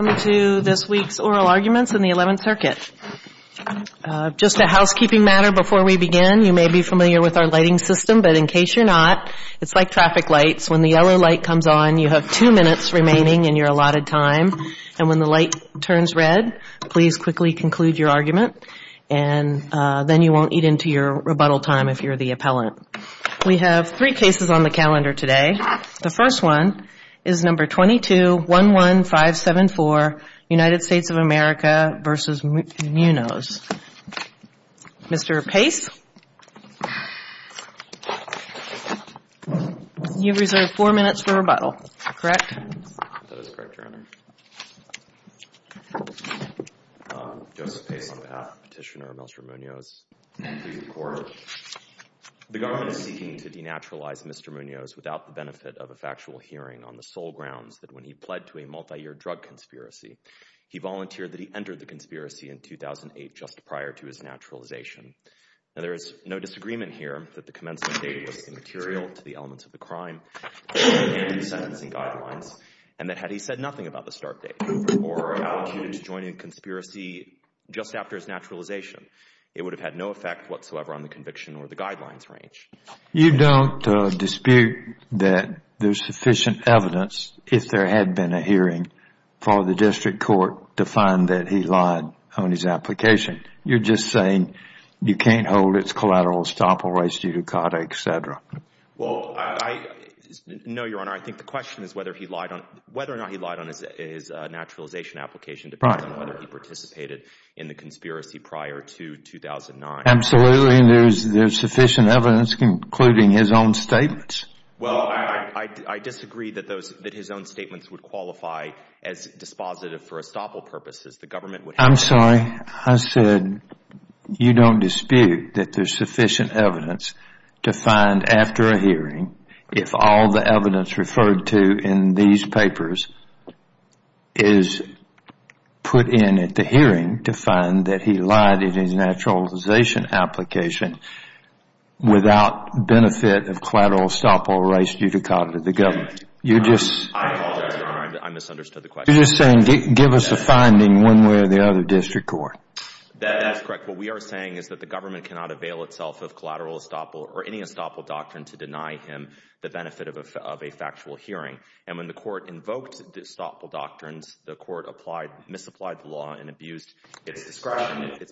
Welcome to this week's Oral Arguments in the Eleventh Circuit. Just a housekeeping matter before we begin. You may be familiar with our lighting system, but in case you're not, it's like traffic lights. When the yellow light comes on, you have two minutes remaining in your allotted time, and when the light turns red, please quickly conclude your argument, and then you won't eat into your rebuttal time if you're the appellant. We have three cases on the calendar today. The first one is No. 22-11574, United States of America v. Munoz. Mr. Pace, you have reserved four minutes for rebuttal, correct? That is correct, Your Honor. Joseph Pace, on behalf of Petitioner Melchor Munoz, please record. The government is seeking to denaturalize Mr. Munoz without the benefit of a factual hearing on the sole grounds that when he pled to a multi-year drug conspiracy, he volunteered that he entered the conspiracy in 2008, just prior to his naturalization. Now, there is no disagreement here that the commencement date was immaterial to the elements of the case, and that had he said nothing about the start date or allocated to joining a conspiracy just after his naturalization, it would have had no effect whatsoever on the conviction or the guidelines range. You don't dispute that there's sufficient evidence, if there had been a hearing, for the district court to find that he lied on his application. You're just saying you can't hold it's collateral estoppel rights due to CADA, et cetera. Well, no, Your Honor. I think the question is whether or not he lied on his naturalization application, depending on whether he participated in the conspiracy prior to 2009. Absolutely, and there's sufficient evidence, including his own statements. Well, I disagree that his own statements would qualify as dispositive for estoppel purposes. I'm sorry. I said you don't dispute that there's sufficient evidence to find after a hearing, if all the evidence referred to in these papers is put in at the hearing to find that he lied in his naturalization application without benefit of collateral estoppel rights due to CADA, the government. I apologize, Your Honor. I misunderstood the question. You're just saying give us a finding one way or the other, district court. That is correct. What we are saying is that the government cannot avail itself of collateral estoppel doctrine to deny him the benefit of a factual hearing. And when the court invoked the estoppel doctrines, the court misapplied the law and abused its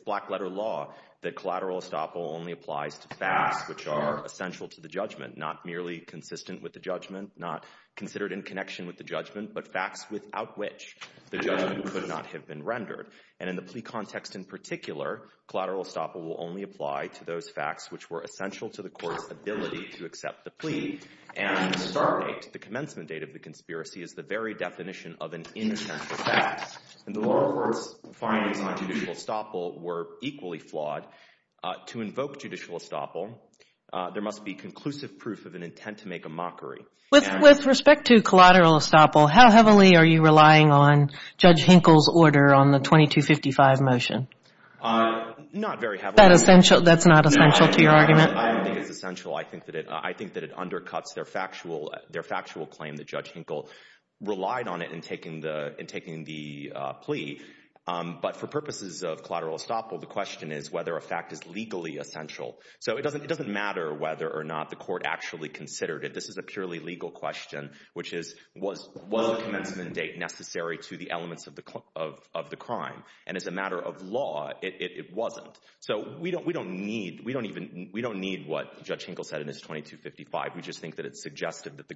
black letter law that collateral estoppel only applies to facts which are essential to the judgment, not merely consistent with the judgment, not considered in connection with the judgment, but facts without which the judgment could not have been rendered. And in the plea context in particular, collateral estoppel will only apply to those facts which were essential to the court's ability to accept the plea. And the start date, the commencement date of the conspiracy, is the very definition of an inessential fact. And the lower court's findings on judicial estoppel were equally flawed. To invoke judicial estoppel, there must be conclusive proof of an intent to make a mockery. With respect to collateral estoppel, how heavily are you relying on Judge Hinkle's order on the 2255 motion? Not very heavily. That's not essential to your argument? I don't think it's essential. I think that it undercuts their factual claim that Judge Hinkle relied on it in taking the plea. But for purposes of collateral estoppel, the question is whether a fact is legally essential. So it doesn't matter whether or not the court actually considered it. This is a purely legal question, which is, was the commencement date necessary to the elements of the crime? And as a matter of law, it wasn't. So we don't need what Judge Hinkle said in his 2255. We just think that it's suggestive that the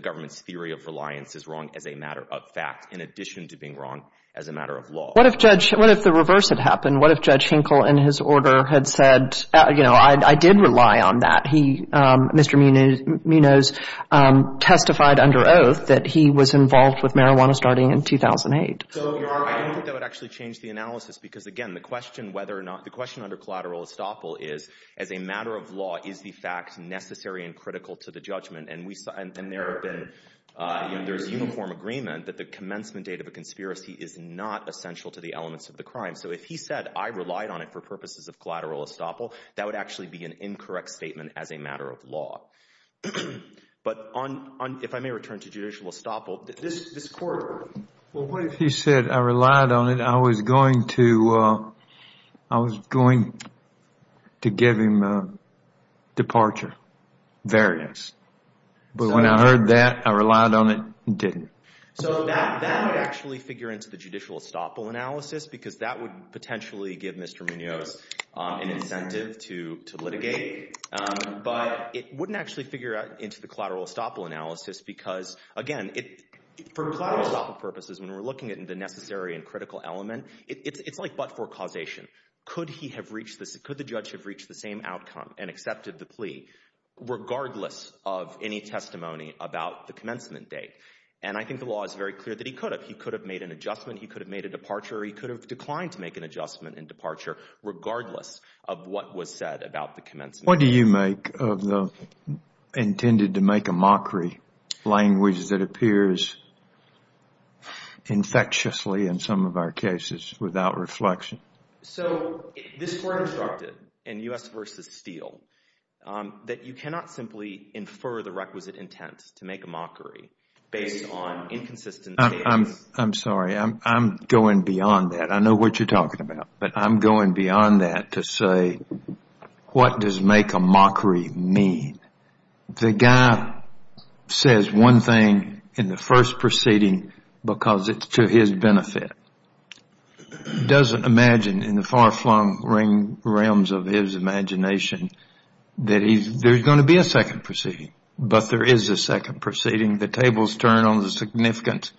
government's theory of reliance is wrong as a matter of fact, in addition to being wrong as a matter of law. What if the reverse had happened? What if Judge Hinkle, in his order, had said, you know, I did rely on that. Mr. Minos testified under oath that he was involved with marijuana starting in 2008. So I don't think that would actually change the analysis. Because, again, the question whether or not the question under collateral estoppel is, as a matter of law, is the fact necessary and critical to the judgment? And there's uniform agreement that the commencement date of a conspiracy is not essential to the elements of the crime. So if he said, I relied on it for purposes of collateral estoppel, that would actually be an incorrect statement as a matter of law. But if I may return to judicial estoppel, this court. Well, what if he said, I relied on it, I was going to, I was going to give him a departure. Variance. But when I heard that, I relied on it and didn't. So that would actually figure into the judicial estoppel analysis because that would potentially give Mr. Minos an incentive to litigate. But it wouldn't actually figure out into the collateral estoppel analysis because, again, for collateral estoppel purposes, when we're looking at the necessary and critical element, it's like but for causation. Could he have reached this? Could the judge have reached the same outcome and accepted the plea regardless of any testimony about the commencement date? And I think the law is very clear that he could have. He could have made an adjustment. He could have made a departure. He could have declined to make an adjustment in departure regardless of what was said about the commencement. What do you make of the intended to make a mockery language that appears infectiously in some of our cases without reflection? So this court instructed in U.S. versus Steele that you cannot simply infer the requisite intent to make a mockery based on inconsistent statements. I'm sorry, I'm going beyond that. I know what you're talking about. But I'm going beyond that to say, what does make a mockery mean? The guy says one thing in the first proceeding because it's to his benefit. He doesn't imagine in the far flung realms of his imagination that there's going to be a second proceeding. But there is a second proceeding. The tables turn on the significance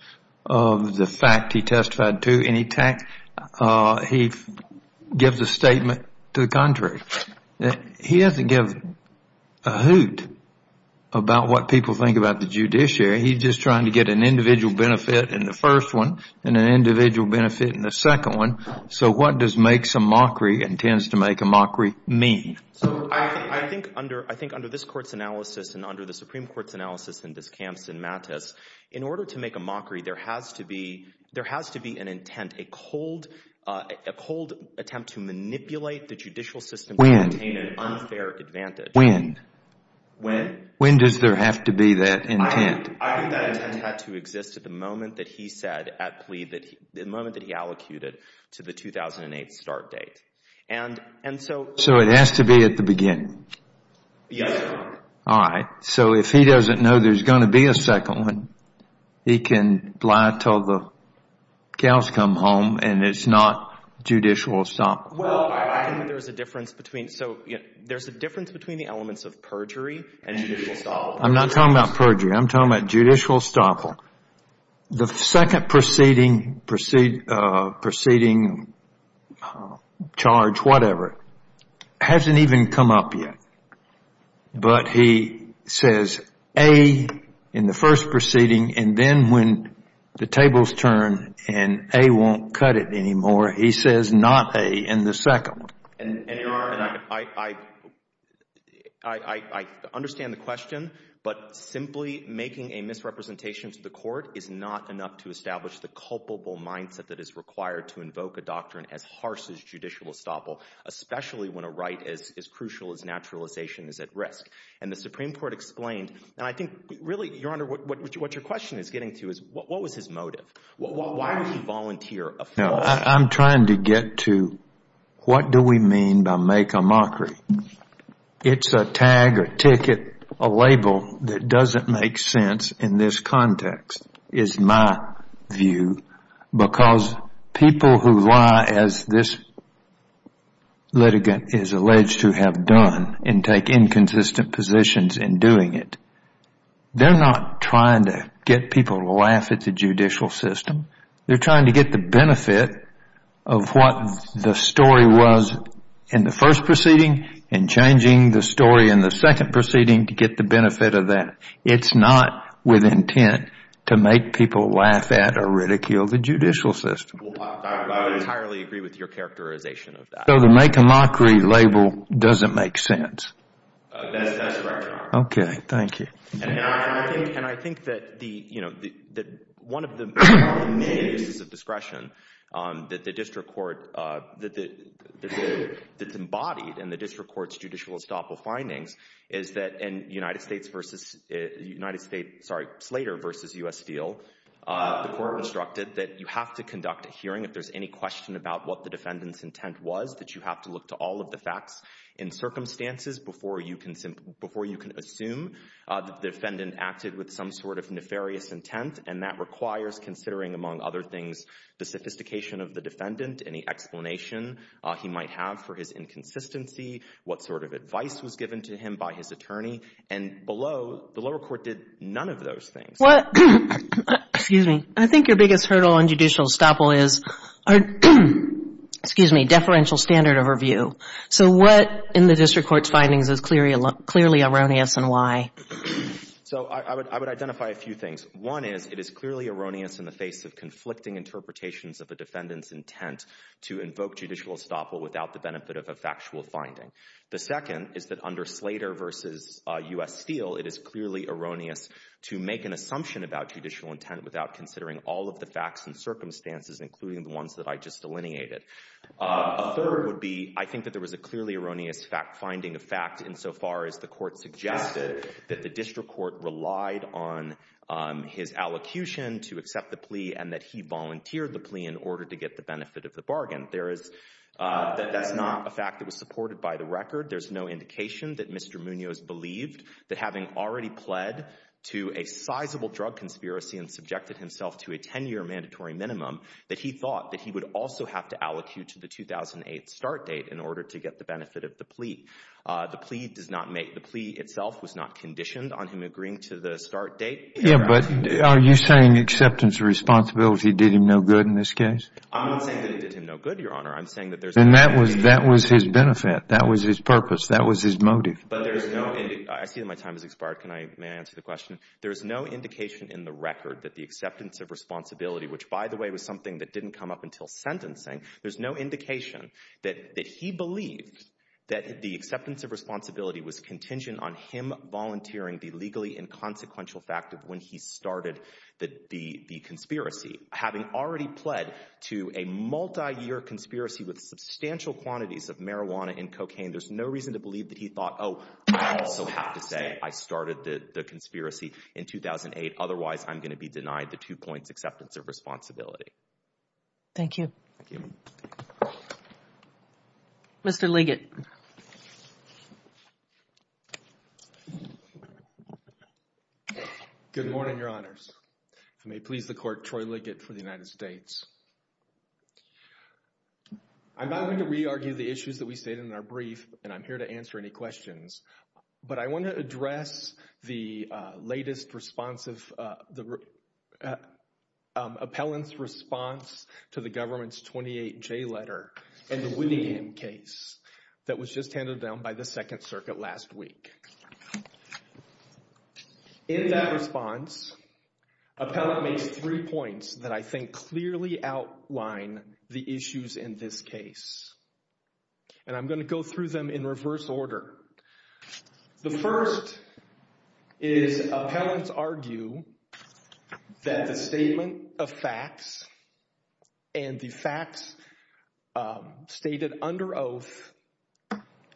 of the fact he testified to. And he gives a statement to the contrary. He doesn't give a hoot about what people think about the judiciary. He's just trying to get an individual benefit in the first one and an individual benefit in the second one. So what does make some mockery and tends to make a mockery mean? So I think under this court's analysis and under the Supreme Court's analysis in this case, there has to be an intent, a cold attempt to manipulate the judicial system to obtain an unfair advantage. When? When? When does there have to be that intent? I think that intent had to exist at the moment that he said at plea, the moment that he allocated to the 2008 start date. And so. So it has to be at the beginning? Yes. All right. So if he doesn't know there's going to be a second one, he can lie until the cows come home and it's not judicial estoppel. Well, I think there's a difference between. So there's a difference between the elements of perjury and judicial estoppel. I'm not talking about perjury. I'm talking about judicial estoppel. The second proceeding, proceeding, proceeding, charge, whatever, hasn't even come up yet. But he says, A, in the first proceeding, and then when the tables turn and A won't cut it anymore, he says not A in the second. And I understand the question, but simply making a misrepresentation to the court is not enough to establish the culpable mindset that is required to invoke a doctrine as harsh as naturalization is at risk. And the Supreme Court explained, and I think really, Your Honor, what your question is getting to is, what was his motive? Why would he volunteer a false? No, I'm trying to get to what do we mean by make a mockery? It's a tag, a ticket, a label that doesn't make sense in this context, is my view. Because people who lie, as this litigant is alleged to have done, and take inconsistent positions in doing it, they're not trying to get people to laugh at the judicial system. They're trying to get the benefit of what the story was in the first proceeding and changing the story in the second proceeding to get the benefit of that. It's not with intent to make people laugh at or ridicule the judicial system. Well, I would entirely agree with your characterization of that. So the make a mockery label doesn't make sense? That's correct, Your Honor. Okay. Thank you. And I think that one of the main uses of discretion that the district court, that's embodied in the district court's judicial estoppel findings is that in the United States, sorry, Slater versus U.S. Steel, the court instructed that you have to conduct a hearing if there's any question about what the defendant's intent was, that you have to look to all of the facts in circumstances before you can assume the defendant acted with some sort of nefarious intent. And that requires considering, among other things, the sophistication of the defendant, any explanation he might have for his inconsistency, what sort of advice was given to him by his attorney. And below, the lower court did none of those things. What, excuse me, I think your biggest hurdle in judicial estoppel is, excuse me, deferential standard of review. So what in the district court's findings is clearly erroneous and why? So I would identify a few things. One is, it is clearly erroneous in the face of conflicting interpretations of the defendant's intent to invoke judicial estoppel without the benefit of a factual finding. The second is that under Slater versus U.S. Steel, it is clearly erroneous to make an assumption about judicial intent without considering all of the facts and circumstances, including the ones that I just delineated. A third would be, I think that there was a clearly erroneous finding of fact insofar as the court suggested that the district court relied on his allocution to accept the plea and that he volunteered the plea in order to get the benefit of the bargain. There is, that's not a fact that was supported by the record. There's no indication that Mr. Munoz believed that having already pled to a sizable drug conspiracy and subjected himself to a 10-year mandatory minimum, that he thought that he would also have to allocute to the 2008 start date in order to get the benefit of the plea. The plea does not make, the plea itself was not conditioned on him agreeing to the start date. Yeah, but are you saying acceptance of responsibility did him no good in this case? I'm not saying that it did him no good, Your Honor. I'm saying that there's no indication of responsibility. Then that was his benefit. That was his purpose. That was his motive. But there's no indication, I see that my time has expired. Can I, may I answer the question? There is no indication in the record that the acceptance of responsibility, which by the way was something that didn't come up until sentencing, there's no indication that he believed that the acceptance of responsibility was contingent on him volunteering the legally inconsequential fact of when he started the conspiracy. Having already pled to a multi-year conspiracy with substantial quantities of marijuana and cocaine, there's no reason to believe that he thought, oh, I also have to say I started the conspiracy in 2008, otherwise I'm going to be denied the two points acceptance of responsibility. Thank you. Mr. Liggett. Good morning, Your Honors. I may please the court, Troy Liggett for the United States. I'm not going to re-argue the issues that we stated in our brief, and I'm here to answer any questions. But I want to address the latest response of, the appellant's response to the government's 28-J letter and the Winningham case that was just handed down by the Second Circuit last week. In that response, appellant makes three points that I think clearly outline the issues in this case. And I'm going to go through them in reverse order. The first is appellants argue that the statement of facts and the facts stated under oath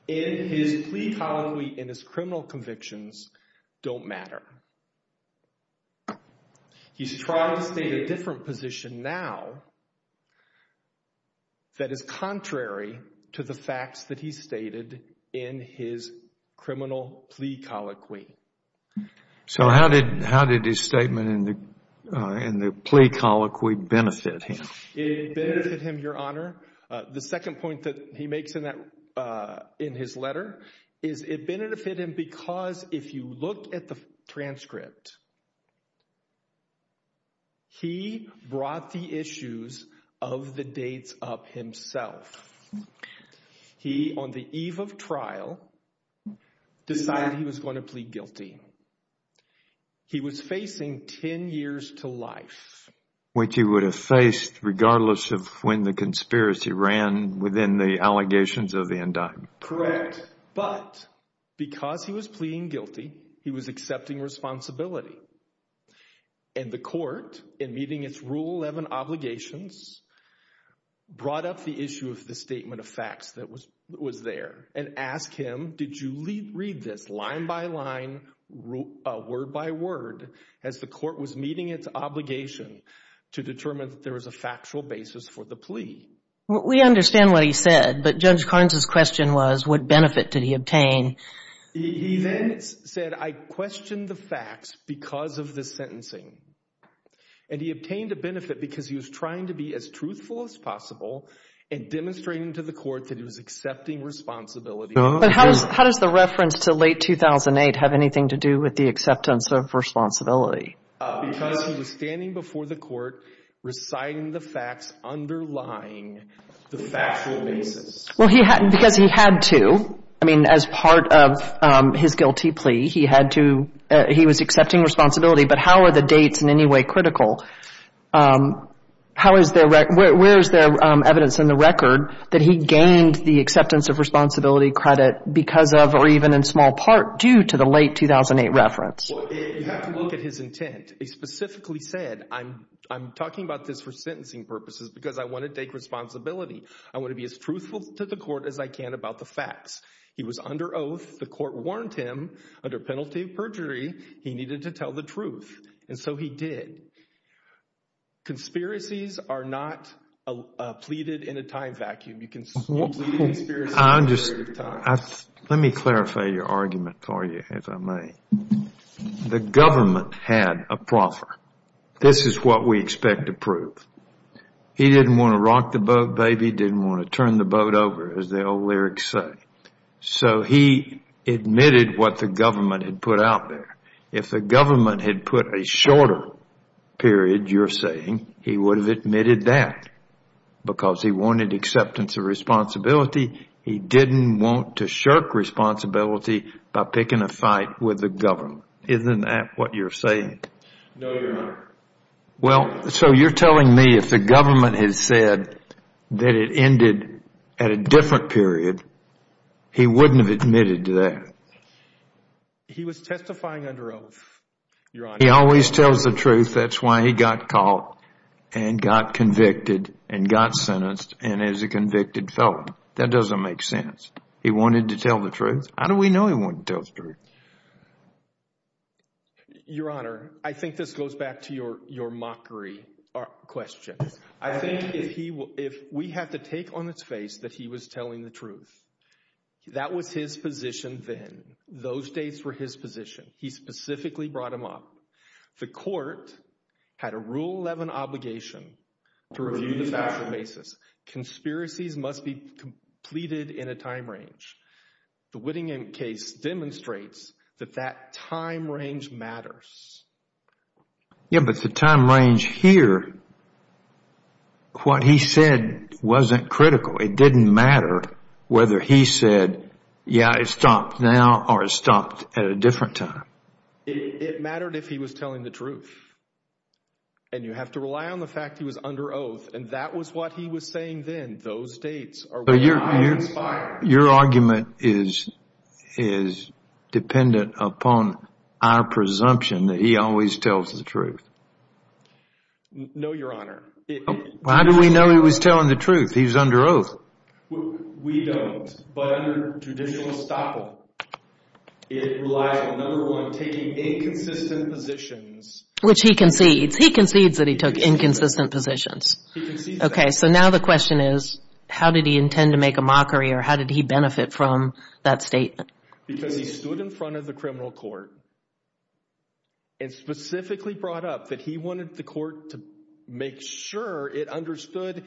in his plea colloquy in his criminal convictions don't matter. He's trying to state a different position now that is contrary to the facts that he stated in his criminal plea colloquy. So how did his statement in the plea colloquy benefit him? It benefited him, Your Honor. The second point that he makes in his letter is it benefited him because if you look at the transcript, he brought the issues of the dates up himself. He, on the eve of trial, decided he was going to plead guilty. Which he would have faced regardless of when the conspiracy ran within the allegations of the indictment. Correct. But because he was pleading guilty, he was accepting responsibility. And the court, in meeting its Rule 11 obligations, brought up the issue of the statement of facts that was there and asked him, did you read this line by line, word by word, as the court was meeting its obligation to determine that there was a factual basis for the plea? We understand what he said, but Judge Karns' question was, what benefit did he obtain? He then said, I questioned the facts because of the sentencing. And he obtained a benefit because he was trying to be as truthful as possible and demonstrating to the court that he was accepting responsibility. But how does the reference to late 2008 have anything to do with the acceptance of responsibility? Because he was standing before the court, reciting the facts underlying the factual basis. Well, because he had to, I mean, as part of his guilty plea, he had to, he was accepting responsibility. But how are the dates in any way critical? How is there, where is there evidence in the record that he gained the acceptance of responsibility credit because of, or even in small part, due to the late 2008 reference? Well, you have to look at his intent. He specifically said, I'm, I'm talking about this for sentencing purposes because I want to take responsibility. I want to be as truthful to the court as I can about the facts. He was under oath, the court warned him, under penalty of perjury, he needed to tell the truth. And so he did. Conspiracies are not pleaded in a time vacuum. You can, you can experience them at a later time. Let me clarify your argument for you, if I may. The government had a proffer. This is what we expect to prove. He didn't want to rock the boat, baby. Didn't want to turn the boat over, as the old lyrics say. So he admitted what the government had put out there. If the government had put a shorter period, you're saying, he would have admitted that because he wanted acceptance of responsibility. He didn't want to shirk responsibility by picking a fight with the government. Isn't that what you're saying? No, Your Honor. Well, so you're telling me if the government had said that it ended at a different period, he wouldn't have admitted to that. He was testifying under oath, Your Honor. He always tells the truth. That's why he got caught and got convicted and got sentenced. And as a convicted felon, that doesn't make sense. He wanted to tell the truth. How do we know he wanted to tell the truth? Your Honor, I think this goes back to your, your mockery question. I think if he, if we had to take on its face that he was telling the truth, that was his position then. Those days were his position. He specifically brought him up. The court had a Rule 11 obligation to review the factual basis. Conspiracies must be completed in a time range. The Whittingham case demonstrates that that time range matters. Yeah, but the time range here, what he said wasn't critical. It didn't matter whether he said, yeah, it stopped now or it stopped at a different time. It mattered if he was telling the truth. And you have to rely on the fact he was under oath. And that was what he was saying then. Those dates are what I inspire. Your argument is, is dependent upon our presumption that he always tells the truth. No, Your Honor. How do we know he was telling the truth? He's under oath. We don't. But under traditional estoppel, it relied on, number one, taking inconsistent positions. Which he concedes. He concedes that he took inconsistent positions. Okay. So now the question is, how did he intend to make a mockery or how did he benefit from that statement? Because he stood in front of the criminal court and specifically brought up that he wanted the court to make sure it understood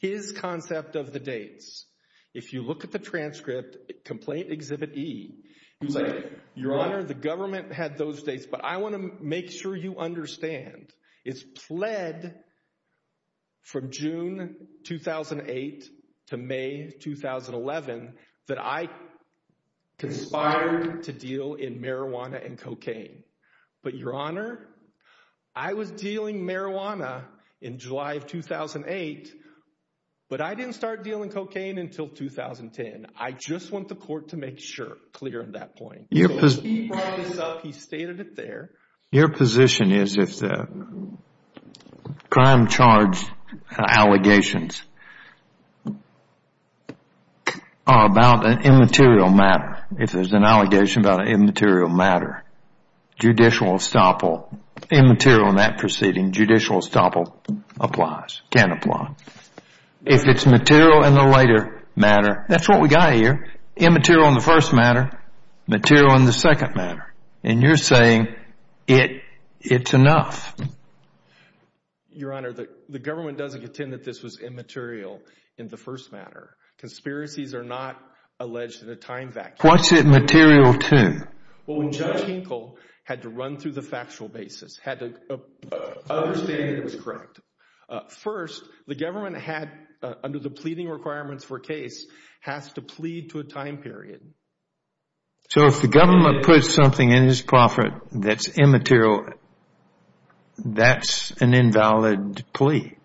his concept of the dates. If you look at the transcript, Complaint Exhibit E, he's like, Your Honor, the government had those dates, but I want to make sure you understand. It's pled from June 2008 to May 2011 that I conspired to deal in marijuana and cocaine. But Your Honor, I was dealing marijuana in July of 2008, but I didn't start dealing cocaine until 2010. I just want the court to make sure, clear on that point. He brought this up, he stated it there. Your position is if the crime charge allegations are about an immaterial matter, if there's an allegation about an immaterial matter, judicial estoppel, immaterial in that proceeding, judicial estoppel applies, can apply. If it's material in the later matter, that's what we got here, immaterial in the first matter, material in the second matter. And you're saying it's enough. Your Honor, the government doesn't contend that this was immaterial in the first matter. Conspiracies are not alleged in a time vacuum. What's it material to? Well, when Judge Kinkle had to run through the factual basis, had to understand it was correct. First, the government had, under the pleading requirements for a case, has to plead to a time period. So if the government puts something in his proffer that's immaterial, that's an invalid plea.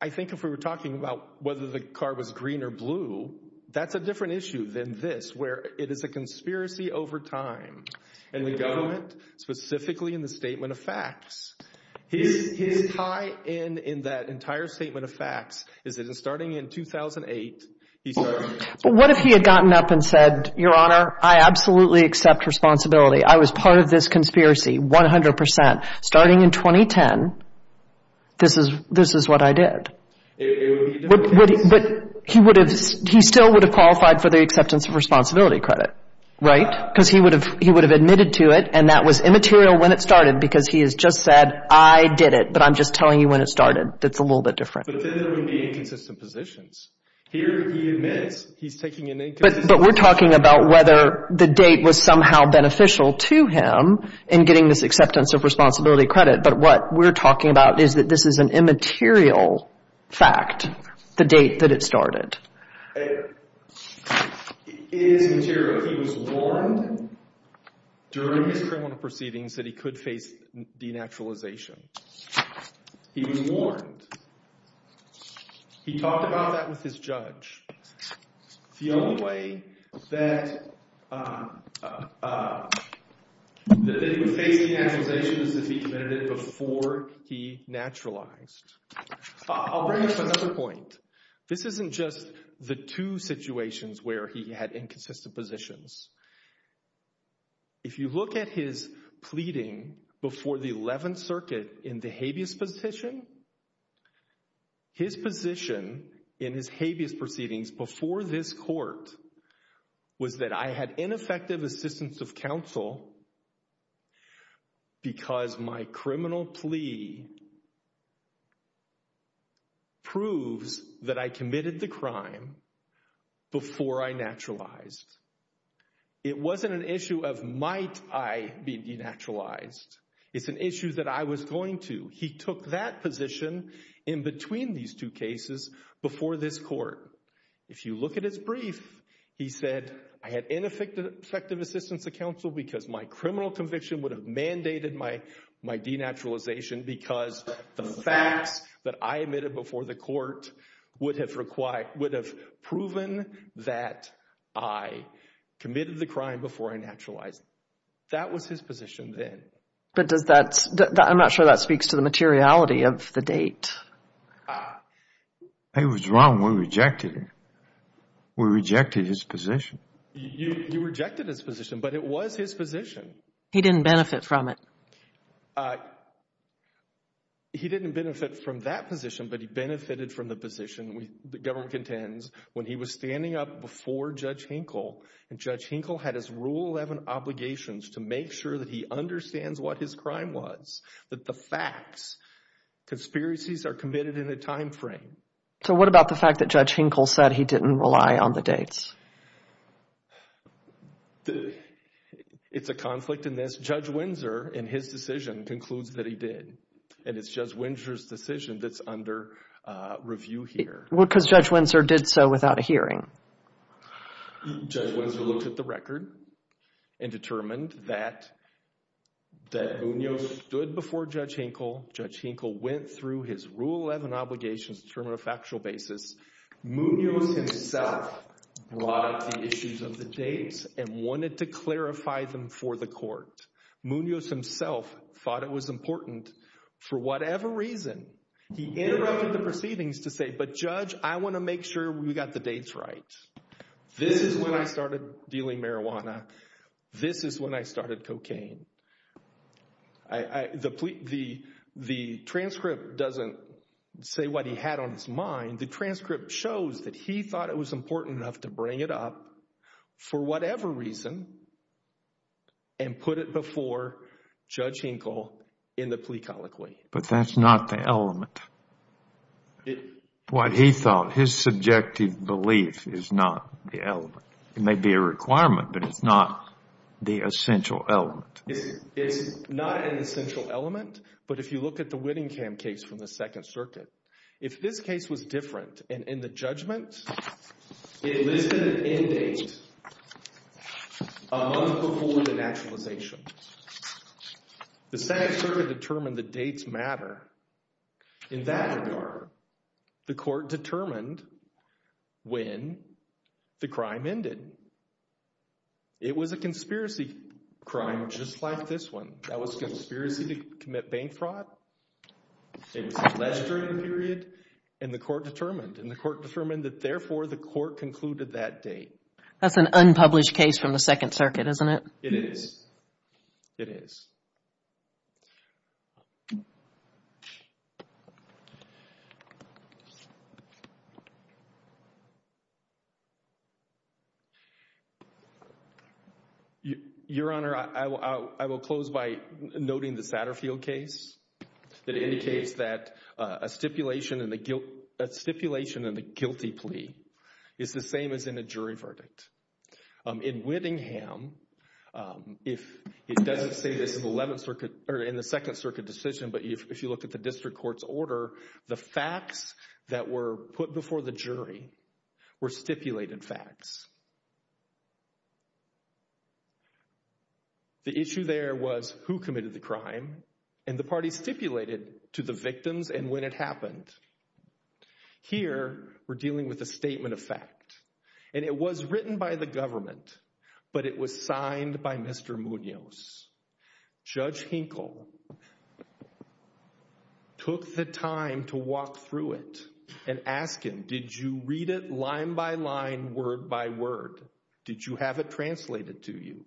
I think if we were talking about whether the car was green or blue, that's a different issue than this, where it is a conspiracy over time. And the government, specifically in the statement of facts, his tie-in in that entire statement of facts is that starting in 2008, But what if he had gotten up and said, Your Honor, I absolutely accept responsibility. I was part of this conspiracy, 100%. Starting in 2010, this is, this is what I did. But he would have, he still would have qualified for the acceptance of responsibility credit, right? Because he would have, he would have admitted to it. And that was immaterial when it started, because he has just said, I did it, but I'm just telling you when it started. That's a little bit different. But then there would be inconsistent positions. Here, he admits, he's taking an inconsistent position. But we're talking about whether the date was somehow beneficial to him in getting this acceptance of responsibility credit. But what we're talking about is that this is an immaterial fact, the date that it started. It is immaterial. He was warned during his criminal proceedings that he could face denaturalization. He was warned. He talked about that with his judge. The only way that, that they would face denaturalization is if he admitted it before he naturalized. I'll bring up another point. This isn't just the two situations where he had inconsistent positions. If you look at his pleading before the 11th circuit in the habeas position, his position in his habeas proceedings before this court was that I had ineffective assistance of counsel because my criminal plea proves that I committed the crime before I naturalized. It wasn't an issue of might I be denaturalized. It's an issue that I was going to. He took that position in between these two cases before this court. If you look at his brief, he said, I had ineffective assistance of counsel because my criminal conviction would have mandated my denaturalization because the facts that I admitted before the court would have required, proven that I committed the crime before I naturalized. That was his position then. But does that, I'm not sure that speaks to the materiality of the date. It was wrong. We rejected it. We rejected his position. You rejected his position, but it was his position. He didn't benefit from it. He didn't benefit from that position, but he benefited from the position the government contends when he was standing up before Judge Hinkle and Judge Hinkle had his rule 11 obligations to make sure that he understands what his crime was, that the facts, conspiracies are committed in a timeframe. So what about the fact that Judge Hinkle said he didn't rely on the dates? It's a conflict in this. Judge Windsor, in his decision, concludes that he did, and it's Judge Windsor's decision that's under review here. Well, because Judge Windsor did so without a hearing. Judge Windsor looked at the record and determined that Munoz stood before Judge Hinkle, Judge Hinkle went through his rule 11 obligations to determine a factual basis. Munoz himself brought up the issues of the dates and wanted to clarify them for the court. Munoz himself thought it was important for whatever reason. He interrupted the proceedings to say, but Judge, I want to make sure we got the dates right. This is when I started dealing marijuana. This is when I started cocaine. The transcript doesn't say what he had on his mind. The transcript shows that he thought it was important enough to bring it up for whatever reason and put it before Judge Hinkle in the plea colloquy. But that's not the element. What he thought, his subjective belief is not the element. It may be a requirement, but it's not the essential element. It's not an essential element. But if you look at the Whittingham case from the Second Circuit, if this case was a month before the naturalization, the Second Circuit determined the dates matter. In that regard, the court determined when the crime ended. It was a conspiracy crime, just like this one, that was a conspiracy to commit bank fraud. It was less during the period and the court determined and the court determined that therefore the court concluded that date. That's an unpublished case from the Second Circuit, isn't it? It is. It is. Your Honor, I will close by noting the Satterfield case that indicates that a In Whittingham, if it doesn't say this in the 11th Circuit or in the Second Circuit decision, but if you look at the district court's order, the facts that were put before the jury were stipulated facts. The issue there was who committed the crime and the parties stipulated to the victims and when it happened. Here, we're dealing with a statement of fact, and it was written by the government, but it was signed by Mr. Munoz. Judge Hinkle took the time to walk through it and ask him, did you read it line by line, word by word? Did you have it translated to you?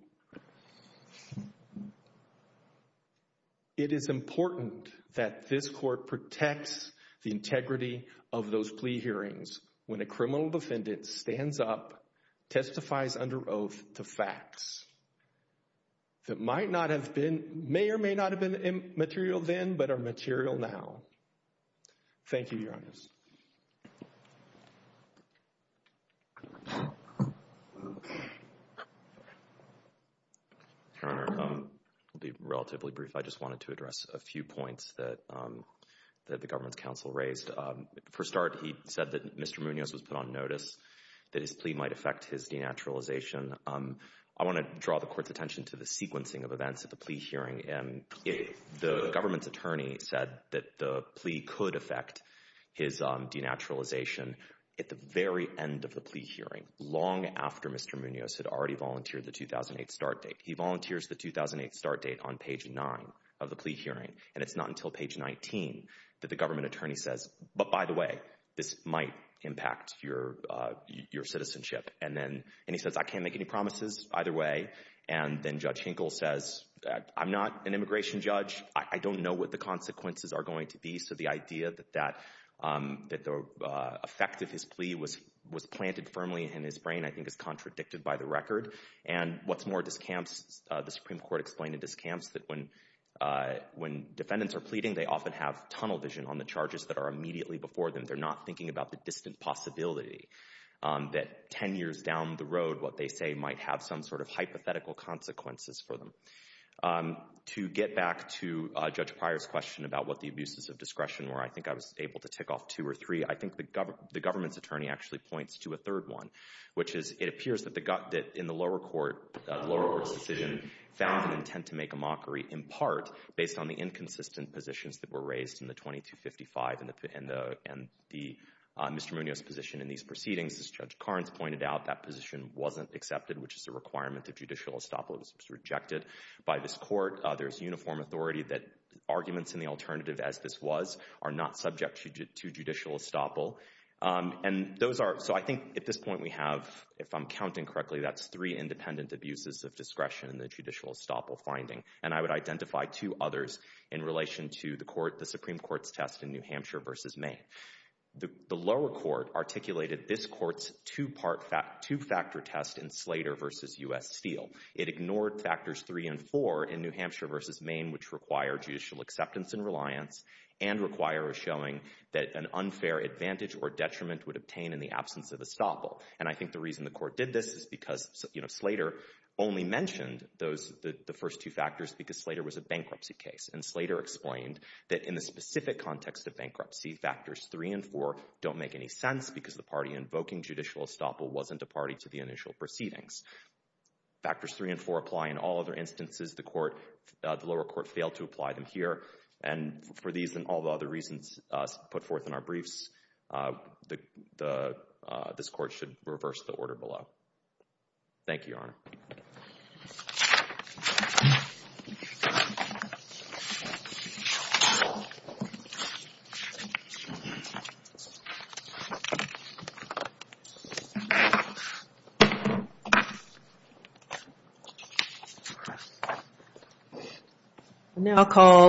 It is important that this court protects the integrity of those plea hearings when a criminal defendant stands up, testifies under oath to facts that might not have been, may or may not have been material then, but are material now. Thank you, Your Honor. Your Honor, I'll be relatively brief. I just wanted to address a few points that the government's counsel raised. For start, he said that Mr. Munoz was put on notice that his plea might affect his denaturalization. I want to draw the court's attention to the sequencing of events at the plea hearing, and the government's attorney said that the plea could affect his denaturalization at the very end of the plea hearing, long after Mr. Munoz's start date. He volunteers the 2008 start date on page nine of the plea hearing, and it's not until page 19 that the government attorney says, but by the way, this might impact your citizenship. And then, and he says, I can't make any promises either way. And then Judge Hinkle says, I'm not an immigration judge. I don't know what the consequences are going to be. So the idea that the effect of his plea was planted firmly in his brain, I think is contradicted by the record. And what's more, this camps, the Supreme Court explained in this camps that when, when defendants are pleading, they often have tunnel vision on the charges that are immediately before them. They're not thinking about the distant possibility that 10 years down the road, what they say might have some sort of hypothetical consequences for them. To get back to Judge Pryor's question about what the abuses of discretion were, I think I was able to tick off two or three. I think the government, the government's attorney actually points to a third one, which is, it appears that the gut, that in the lower court, lower court's decision found an intent to make a mockery in part based on the inconsistent positions that were raised in the 2255 and the, and the Mr. Munoz position in these proceedings. As Judge Carnes pointed out, that position wasn't accepted, which is a requirement of judicial estoppel. It was rejected by this court. There's uniform authority that arguments in the alternative as this was are not subject to judicial estoppel. And those are, so I think at this point we have, if I'm counting correctly, that's three independent abuses of discretion in the judicial estoppel finding, and I would identify two others in relation to the court, the Supreme Court's test in New Hampshire versus Maine. The, the lower court articulated this court's two part fact, two factor test in Slater versus U.S. Steele. It ignored factors three and four in New Hampshire versus Maine, which require judicial acceptance and reliance and require a showing that an unfair advantage or detriment would obtain in the absence of estoppel. And I think the reason the court did this is because, you know, Slater only mentioned those, the, the first two factors because Slater was a bankruptcy case and Slater explained that in the specific context of bankruptcy, factors three and four don't make any sense because the party invoking judicial estoppel wasn't a party to the initial proceedings. Factors three and four apply in all other instances. The court, the lower court failed to apply them here. And for these and all the other reasons put forth in our briefs, the, the this court should reverse the order below. Okay. Now called.